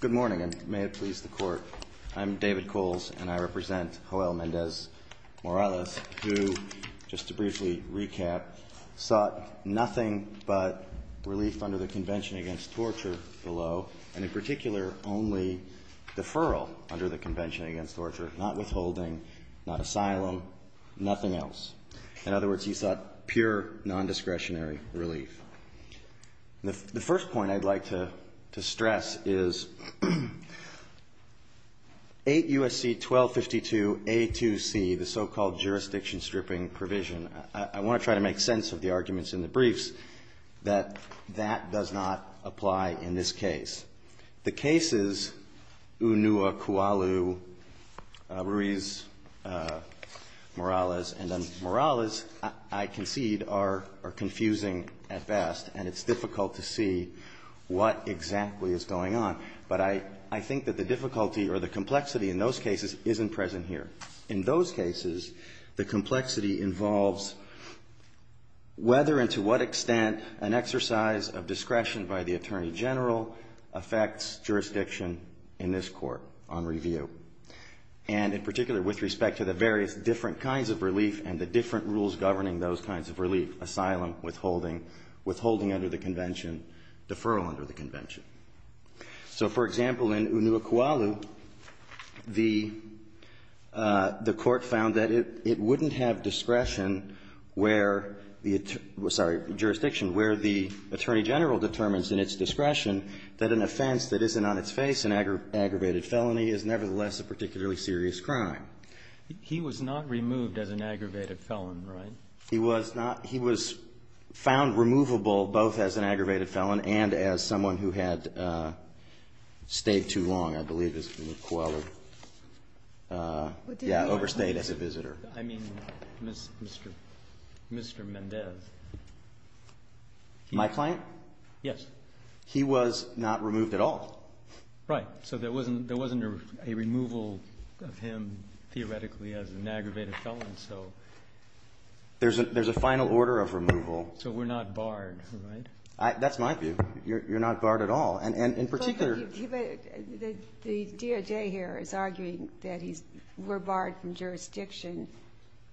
Good morning, and may it please the Court. I'm David Coles, and I represent Joel Mendez-Morales, who, just to briefly recap, sought nothing but relief under the Convention Against Torture below, and in particular, only deferral under the Convention Against Torture, not withholding, not asylum, nothing else. In other words, he sought pure, non-discretionary relief. The first point I'd like to stress is 8 U.S.C. 1252a2c, the so-called jurisdiction stripping provision, I want to try to make sense of the arguments in the briefs that that does not apply in this case. The cases Unua, Kualu, Ruiz-Morales, and then it's difficult to see what exactly is going on, but I think that the difficulty or the complexity in those cases isn't present here. In those cases, the complexity involves whether and to what extent an exercise of discretion by the Attorney General affects jurisdiction in this Court on review, and in particular, with respect to the various different kinds of relief and the different rules governing those kinds of relief, asylum, withholding, withholding under the convention, deferral under the convention. So for example, in Unua, Kualu, the Court found that it wouldn't have discretion where the attorney sorry, jurisdiction, where the Attorney General determines in its discretion that an offense that isn't on its face, an aggravated felony, is nevertheless a particularly serious crime. He was not removed as an aggravated felon, right? He was not. He was found removable both as an aggravated felon and as someone who had stayed too long, I believe, as Kualu overstayed as a visitor. I mean, Mr. Mendez. My client? Yes. He was not removed at all. Right. So there wasn't a removal of him theoretically as an aggravated felon. So there's a final order of removal. So we're not barred, right? That's my view. You're not barred at all. And in particular. The DOJ here is arguing that we're barred from jurisdiction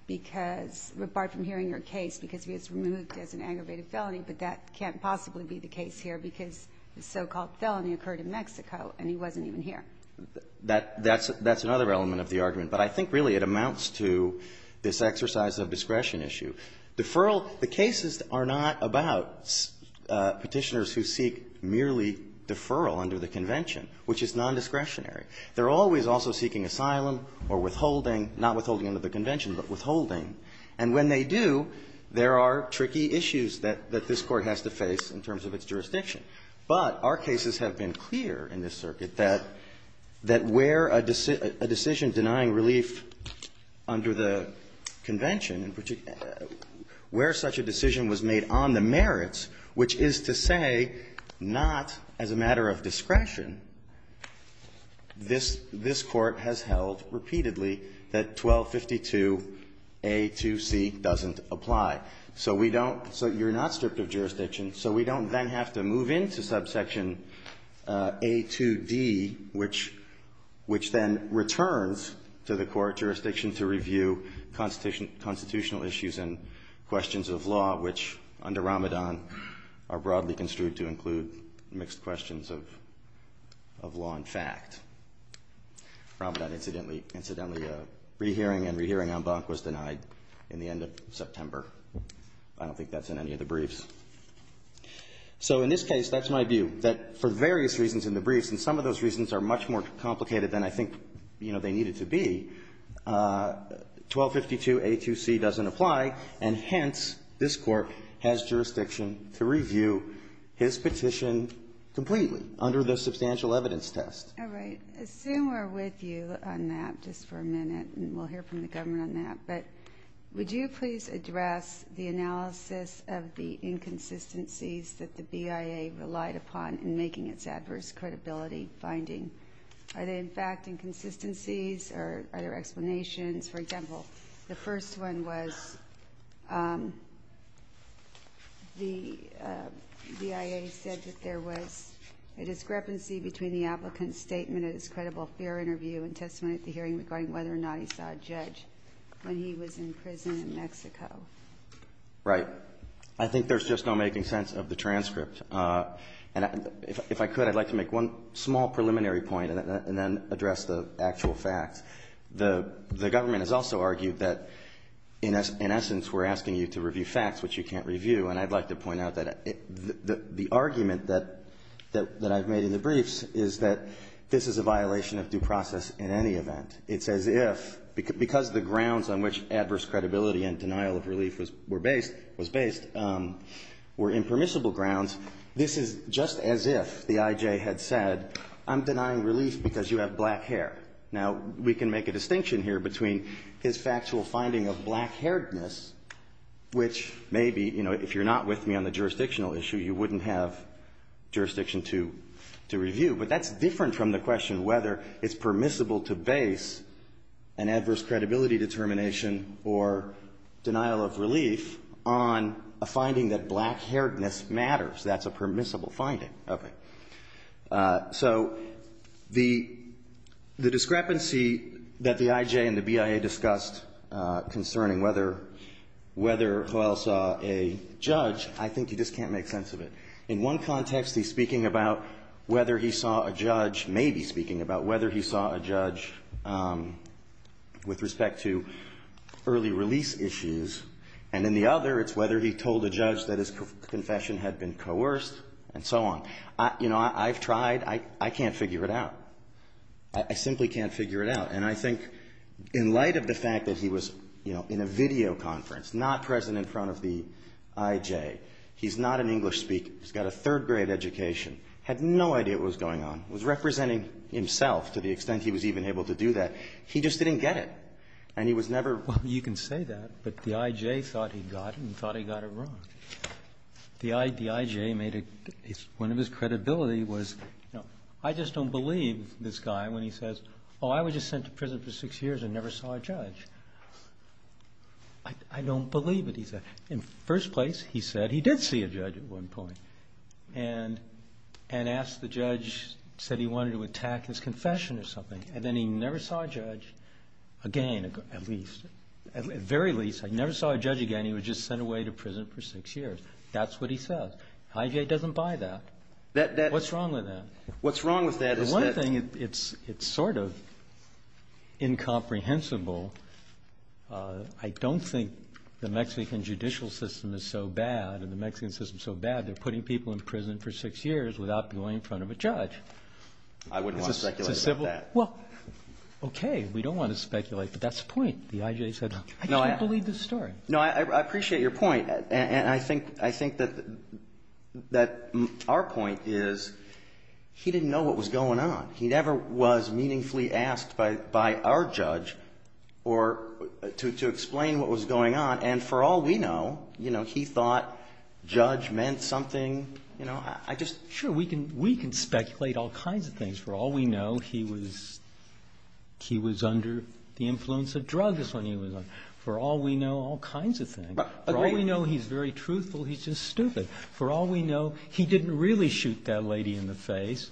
because we're barred from hearing your case because he was removed as an aggravated felony. But that can't possibly be the case here because the so-called felony occurred in Mexico and he wasn't even here. That's another element of the argument. But I think really it amounts to this exercise of discretion issue. Deferral, the cases are not about Petitioners who seek merely deferral under the Convention, which is nondiscretionary. They're always also seeking asylum or withholding, not withholding under the Convention, but withholding. And when they do, there are tricky issues that this Court has to face in terms of its jurisdiction. But our cases have been clear in this circuit that where a decision denying relief under the Convention, in particular, where such a decision was made on the merits, which is to say not as a matter of discretion, this Court has held repeatedly that 1252A2C doesn't apply. So we don't so you're not stripped of jurisdiction, so we don't then have to move into subsection A2D, which then returns to the court jurisdiction to review constitutional issues and questions of law, which under Ramadan are broadly construed to include mixed questions of law and fact. Ramadan, incidentally, a rehearing and rehearing en banc was denied in the end of September. I don't think that's in any of the briefs. So in this case, that's my view, that for various reasons in the briefs, and some of those reasons are much more complicated than I think they needed to be, 1252A2C doesn't apply. And hence, this Court has jurisdiction to review his petition completely under the substantial evidence test. All right. I assume we're with you on that just for a minute, and we'll hear from the government on that. But would you please address the analysis of the inconsistencies that the BIA relied upon in making its adverse credibility finding? Are they, in fact, inconsistencies? Or are there explanations? For example, the first one was the BIA said that there was a discrepancy between the applicant's statement at his credible fair interview and testimony at the hearing regarding whether or not he saw a judge when he was in prison in Mexico. Right. I think there's just no making sense of the transcript. And if I could, I'd like to make one small preliminary point and then address the actual facts. The government has also argued that, in essence, we're asking you to review facts which you can't review. And I'd like to point out that the argument that I've made in the briefs is that this is a violation of due process in any event. It's as if, because the grounds on which adverse credibility and denial of relief was based were impermissible grounds, this is just as if the IJ had said, I'm denying relief because you have black hair. Now, we can make a distinction here between his factual finding of black hairedness, which may be, if you're not with me on the jurisdictional issue, you wouldn't have jurisdiction to review. But that's different from the question whether it's permissible to base an adverse credibility determination or denial of relief on a finding that black hairedness matters. That's a permissible finding of it. So the discrepancy that the IJ and the BIA discussed concerning whether Hoel saw a judge, I think you just can't make sense of it. Maybe speaking about whether he saw a judge with respect to early release issues, and then the other, it's whether he told a judge that his confession had been coerced, and so on. You know, I've tried. I can't figure it out. I simply can't figure it out. And I think in light of the fact that he was in a video conference, not present in front of the IJ, he's not an English speaker, he's got a third grade education, had no idea what was going on, was representing himself to the extent he was even able to do that. He just didn't get it. And he was never. Well, you can say that. But the IJ thought he got it and thought he got it wrong. The IJ made it, one of his credibility was, you know, I just don't believe this guy when he says, oh, I was just sent to prison for six years and never saw a judge. I don't believe it, he said. In first place, he said he did see a judge at one point and asked the judge, said he wanted to attack his confession or something. And then he never saw a judge again, at least. At very least, he never saw a judge again. He was just sent away to prison for six years. That's what he says. IJ doesn't buy that. What's wrong with that? What's wrong with that is that. The one thing, it's sort of incomprehensible. I don't think the Mexican judicial system is so bad and the Mexican system is so bad, they're putting people in prison for six years without going in front of a judge. I wouldn't want to speculate about that. Well, OK, we don't want to speculate, but that's the point. The IJ said, I just don't believe this story. No, I appreciate your point. And I think that our point is he didn't know what was going on. He never was meaningfully asked by our judge to explain what was going on. And for all we know, he thought judge meant something. Sure, we can speculate all kinds of things. For all we know, he was under the influence of drugs when he was on. For all we know, all kinds of things. For all we know, he's very truthful. He's just stupid. For all we know, he didn't really shoot that lady in the face.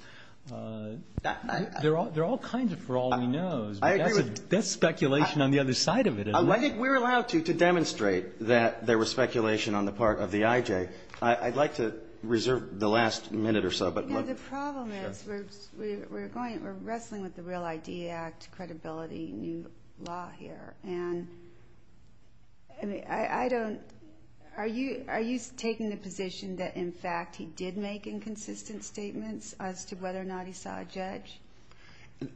There are all kinds of for all we knows. That's speculation on the other side of it. We're allowed to demonstrate that there was speculation on the part of the IJ. I'd like to reserve the last minute or so. But the problem is we're wrestling with the Real ID Act, credibility, new law here. And I don't, are you taking the position that, in fact, he did make inconsistent statements as to whether or not he saw a judge?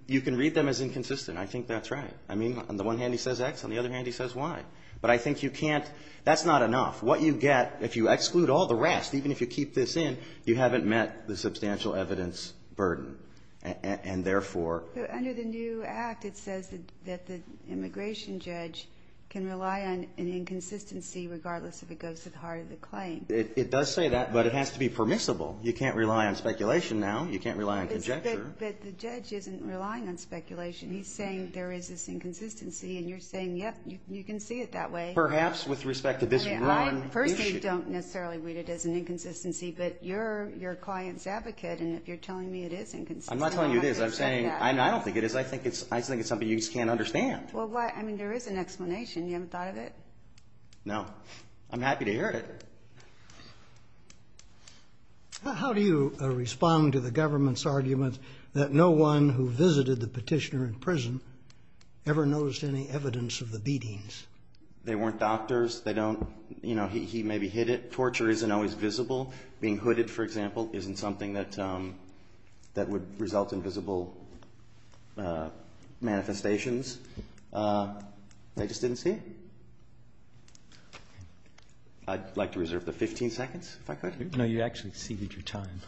You can read them as inconsistent. I think that's right. I mean, on the one hand, he says X. On the other hand, he says Y. But I think you can't, that's not enough. What you get, if you exclude all the rest, even if you keep this in, you haven't met the substantial evidence burden. And therefore, But under the new act, it says that the immigration judge can rely on an inconsistency regardless if it goes to the heart of the claim. It does say that, but it has to be permissible. You can't rely on speculation now. You can't rely on conjecture. But the judge isn't relying on speculation. He's saying there is this inconsistency. And you're saying, yep, you can see it that way. Perhaps with respect to this grand issue. First, you don't necessarily read it as an inconsistency. But you're your client's advocate. And if you're telling me it is inconsistent, I'm not going to accept that. I'm not telling you it is. I'm saying, I don't think it is. I think it's something you just can't understand. Well, I mean, there is an explanation. You haven't thought of it? No. I'm happy to hear it. How do you respond to the government's argument that no one who visited the petitioner in prison ever noticed any evidence of the beatings? They weren't doctors. They don't, you know, he maybe hit it. Torture isn't always visible. Being hooded, for example, isn't something that would result in visible manifestations. They just didn't see it. I'd like to reserve the 15 seconds, if I could. No, you actually ceded your time.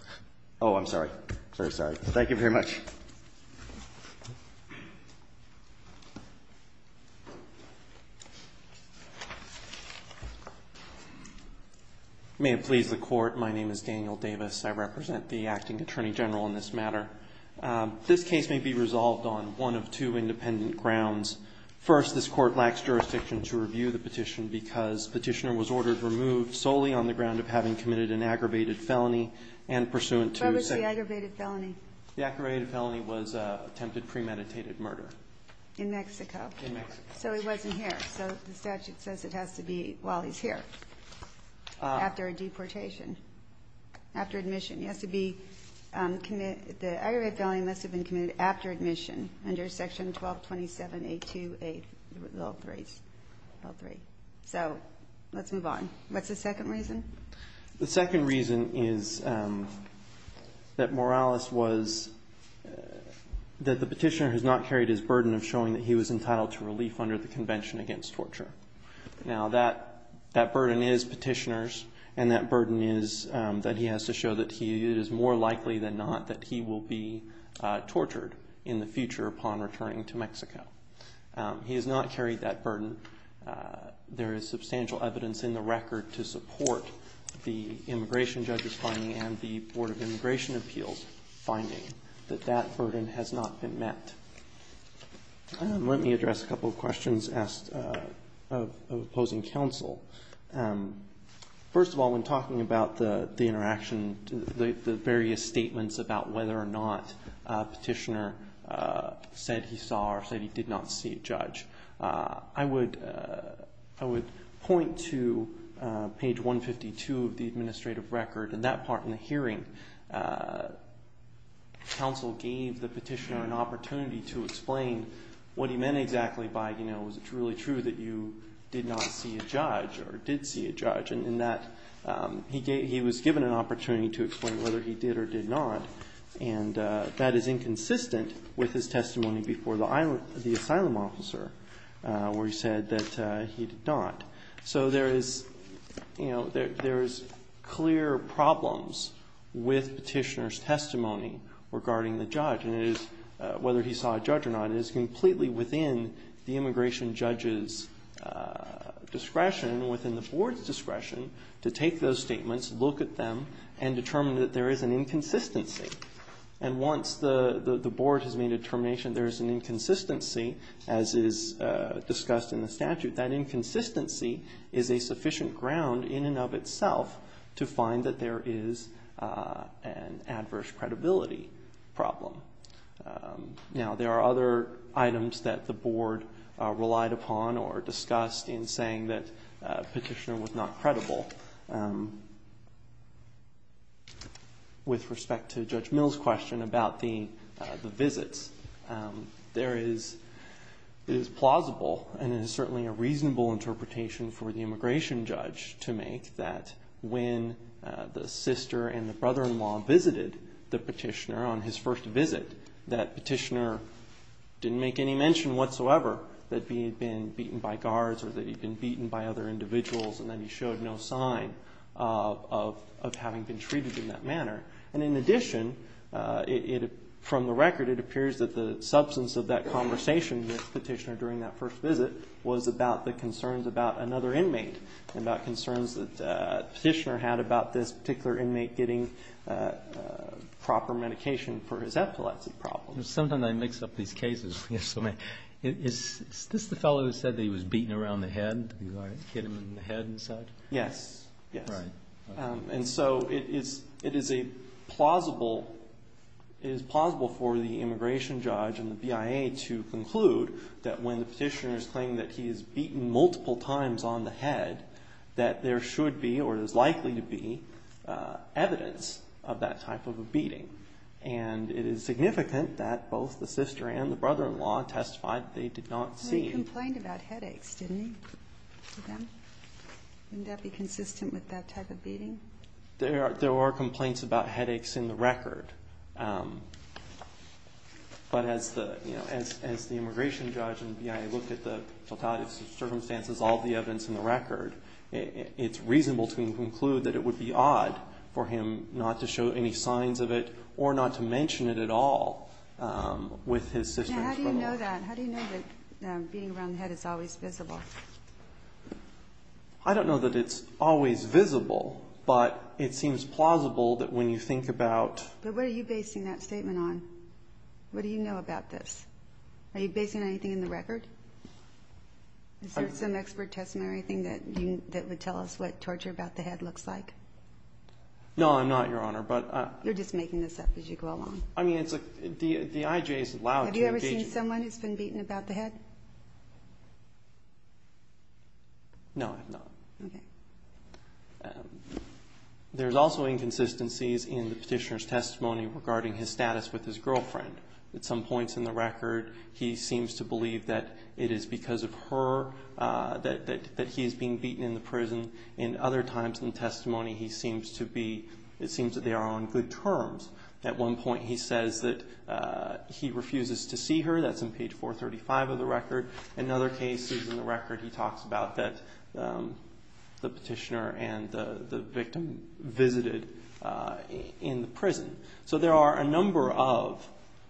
Oh, I'm sorry. Sorry, sorry. Thank you very much. May it please the Court. My name is Daniel Davis. I represent the acting attorney general in this matter. This case may be resolved on one of two independent grounds. First, this court lacks jurisdiction to review the petition because petitioner was ordered removed solely on the ground of having committed an aggravated felony and pursuant to the second. The aggravated felony was attempted premeditated murder. In Mexico. So he wasn't here. So the statute says it has to be while he's here, after a deportation, after admission. He has to be committed. The aggravated felony must have been committed after admission under section 1227.828, all three. So let's move on. What's the second reason? The second reason is that Morales was, that the petitioner has not carried his burden of showing that he was entitled to relief under the Convention Against Torture. Now, that burden is petitioners. And that burden is that he has to show that it is more likely than not that he will be tortured in the future upon returning to Mexico. He has not carried that burden. There is substantial evidence in the record to support the immigration judge's finding and the Board of Immigration Appeals' finding that that burden has not been met. Let me address a couple of questions asked of opposing counsel. First of all, when talking about the interaction, the various statements about whether or not a petitioner said he saw or said he did not see a judge, I would point to page 152 of the administrative record. In that part in the hearing, counsel gave the petitioner an opportunity to explain what he meant exactly by was it really true that you did not see a judge or did see a judge? And in that, he was given an opportunity to explain whether he did or did not. And that is inconsistent with his testimony before the asylum officer, where he said that he did not. So there is clear problems with petitioner's testimony regarding the judge, whether he saw a judge or not. It is completely within the immigration judge's discretion, within the board's discretion, to take those statements, look at them, and determine that there is an inconsistency. And once the board has made a determination there is an inconsistency, as is discussed in the statute, that inconsistency is a sufficient ground in and of itself to find that there is an adverse credibility problem. Now, there are other items that the board relied upon or discussed in saying that a petitioner was not credible with respect to Judge Mill's question about the visits. There is plausible, and it is certainly a reasonable interpretation for the immigration judge to make that when the sister and the brother-in-law visited the petitioner on his first visit, that petitioner didn't make any mention whatsoever that he had been beaten by guards or that he'd been beaten by other individuals and that he showed no sign of having been treated in that manner. And in addition, from the record, it appears that the substance of that conversation with the petitioner during that first visit was about the concerns about another inmate and about concerns that the petitioner had about this particular inmate getting proper medication for his epilepsy problem. Sometimes I mix up these cases. Is this the fellow who said that he was beaten around the head? Did you get him in the head and such? Yes. Yes. And so it is plausible for the immigration judge and the BIA to conclude that when the petitioner is claiming that he is beaten multiple times on the head, that there should be or is likely to be evidence of that type of a beating. And it is significant that both the sister and the brother-in-law testified that they did not seem. They complained about headaches, didn't they? Wouldn't that be consistent with that type of beating? There are complaints about headaches in the record. But as the immigration judge and the BIA looked at the totality of circumstances, all the evidence in the record, it's reasonable to conclude that it would be odd for him not to show any signs of it or not to mention it at all with his sister and his brother-in-law. How do you know that beating around the head is always visible? I don't know that it's always visible, but it seems plausible that when you think about. But what are you basing that statement on? What do you know about this? Are you basing anything in the record? Is there some expert testimony or anything that would tell us what torture about the head looks like? No, I'm not, Your Honor. But I. You're just making this up as you go along. I mean, it's like the IJ is allowed to engage. Have you ever seen someone who's been beaten about the head? No, I have not. OK. There's also inconsistencies in the petitioner's testimony regarding his status with his girlfriend. At some points in the record, he seems to believe that it is because of her that he's being beaten in the prison. In other times in testimony, it seems that they are on good terms. At one point, he says that he refuses to see her. That's on page 435 of the record. In other cases in the record, he talks about the petitioner and the victim visited in the prison. So there are a number of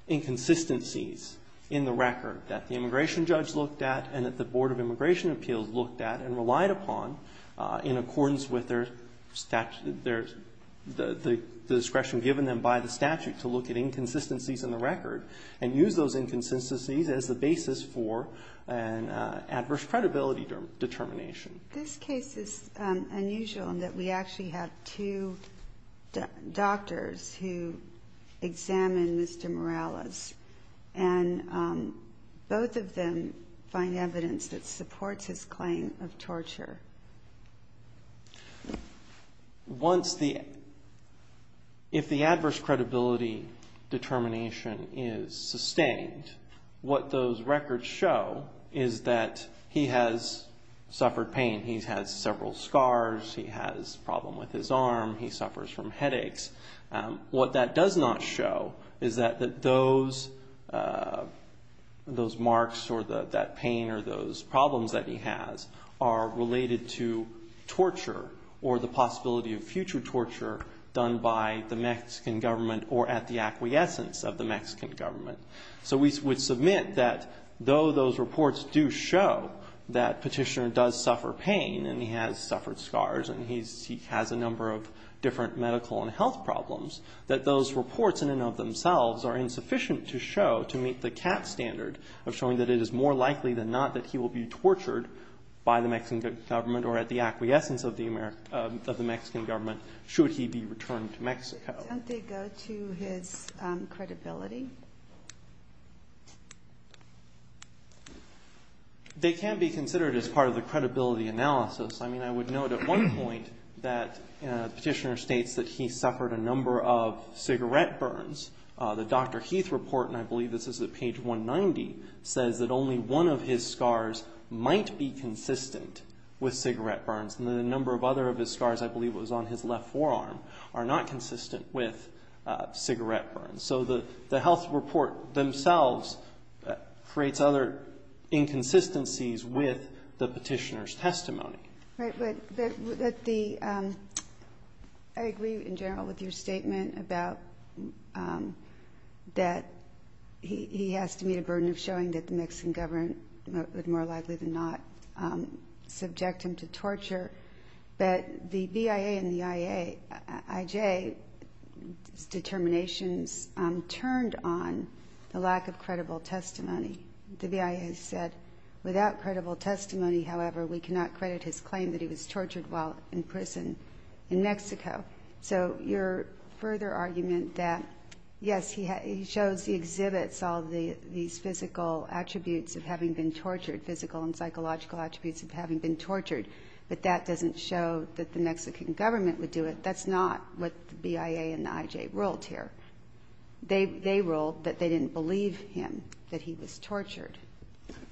inconsistencies in the record that the immigration judge looked at and that the Board of Immigration Appeals looked at and relied upon in accordance with the discretion given them by the statute to look at inconsistencies in the record and use those inconsistencies as the basis for an adverse credibility determination. This case is unusual in that we actually have two doctors who examine Mr. Morales. And both of them find evidence that supports his claim of torture. If the adverse credibility determination is sustained, what those records show is that he has suffered pain. He's had several scars. He has a problem with his arm. He suffers from headaches. What that does not show is that those marks or that pain or those problems that he has are related to his condition. They're related to torture or the possibility of future torture done by the Mexican government or at the acquiescence of the Mexican government. So we would submit that though those reports do show that petitioner does suffer pain, and he has suffered scars, and he has a number of different medical and health problems, that those reports in and of themselves are insufficient to show, to meet the cap standard of showing that it is more likely than not that he will be tortured by the Mexican government or at the acquiescence of the Mexican government should he be returned to Mexico. Don't they go to his credibility? They can be considered as part of the credibility analysis. I mean, I would note at one point that the petitioner states that he suffered a number of cigarette burns. The Dr. Heath report, and I believe this is at page 190, says that only one of his scars might be consistent with cigarette burns. And the number of other of his scars, I believe it was on his left forearm, are not consistent with cigarette burns. So the health report themselves creates other inconsistencies with the petitioner's testimony. Right, but I agree in general with your statement about that he has to meet a burden of showing that the Mexican government would more likely than not subject him to torture. But the BIA and the IJ's determinations turned on the lack of credible testimony. The BIA has said, without credible testimony, however, we cannot credit his claim that he was tortured while in prison in Mexico. So your further argument that, yes, he shows the exhibits, all these physical attributes of having been tortured, physical and psychological attributes of having been tortured, but that doesn't show that the Mexican government would do it, that's not what the BIA and the IJ ruled here. They ruled that they didn't believe him, that he was tortured.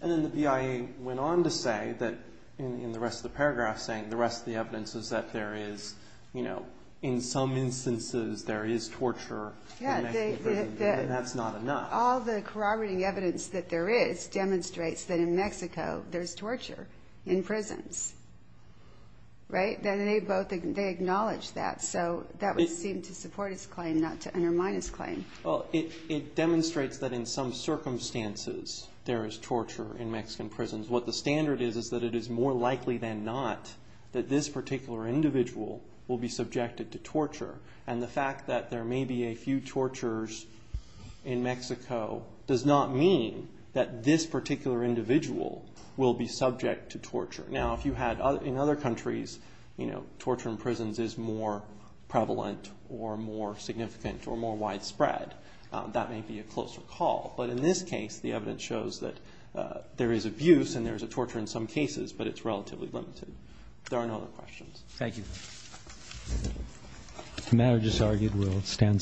And then the BIA went on to say that, in the rest of the paragraph, saying the rest of the evidence is that there is, you know, in some instances there is torture in Mexican prisons, and that's not enough. All the corroborating evidence that there is demonstrates that in Mexico there's torture in prisons. Right, and they both, they acknowledge that, so that would seem to support his claim, not to undermine his claim. Well, it demonstrates that in some circumstances there is torture in Mexican prisons. What the standard is is that it is more likely than not that this particular individual will be subjected to torture. And the fact that there may be a few tortures in Mexico does not mean that this particular individual will be subject to torture. Now, if you had, in other countries, you know, torture in prisons is more prevalent or more significant or more widespread. That may be a closer call. But in this case, the evidence shows that there is abuse and there is a torture in some cases, but it's relatively limited. There are no other questions. Thank you. The matter just argued will stand submitted.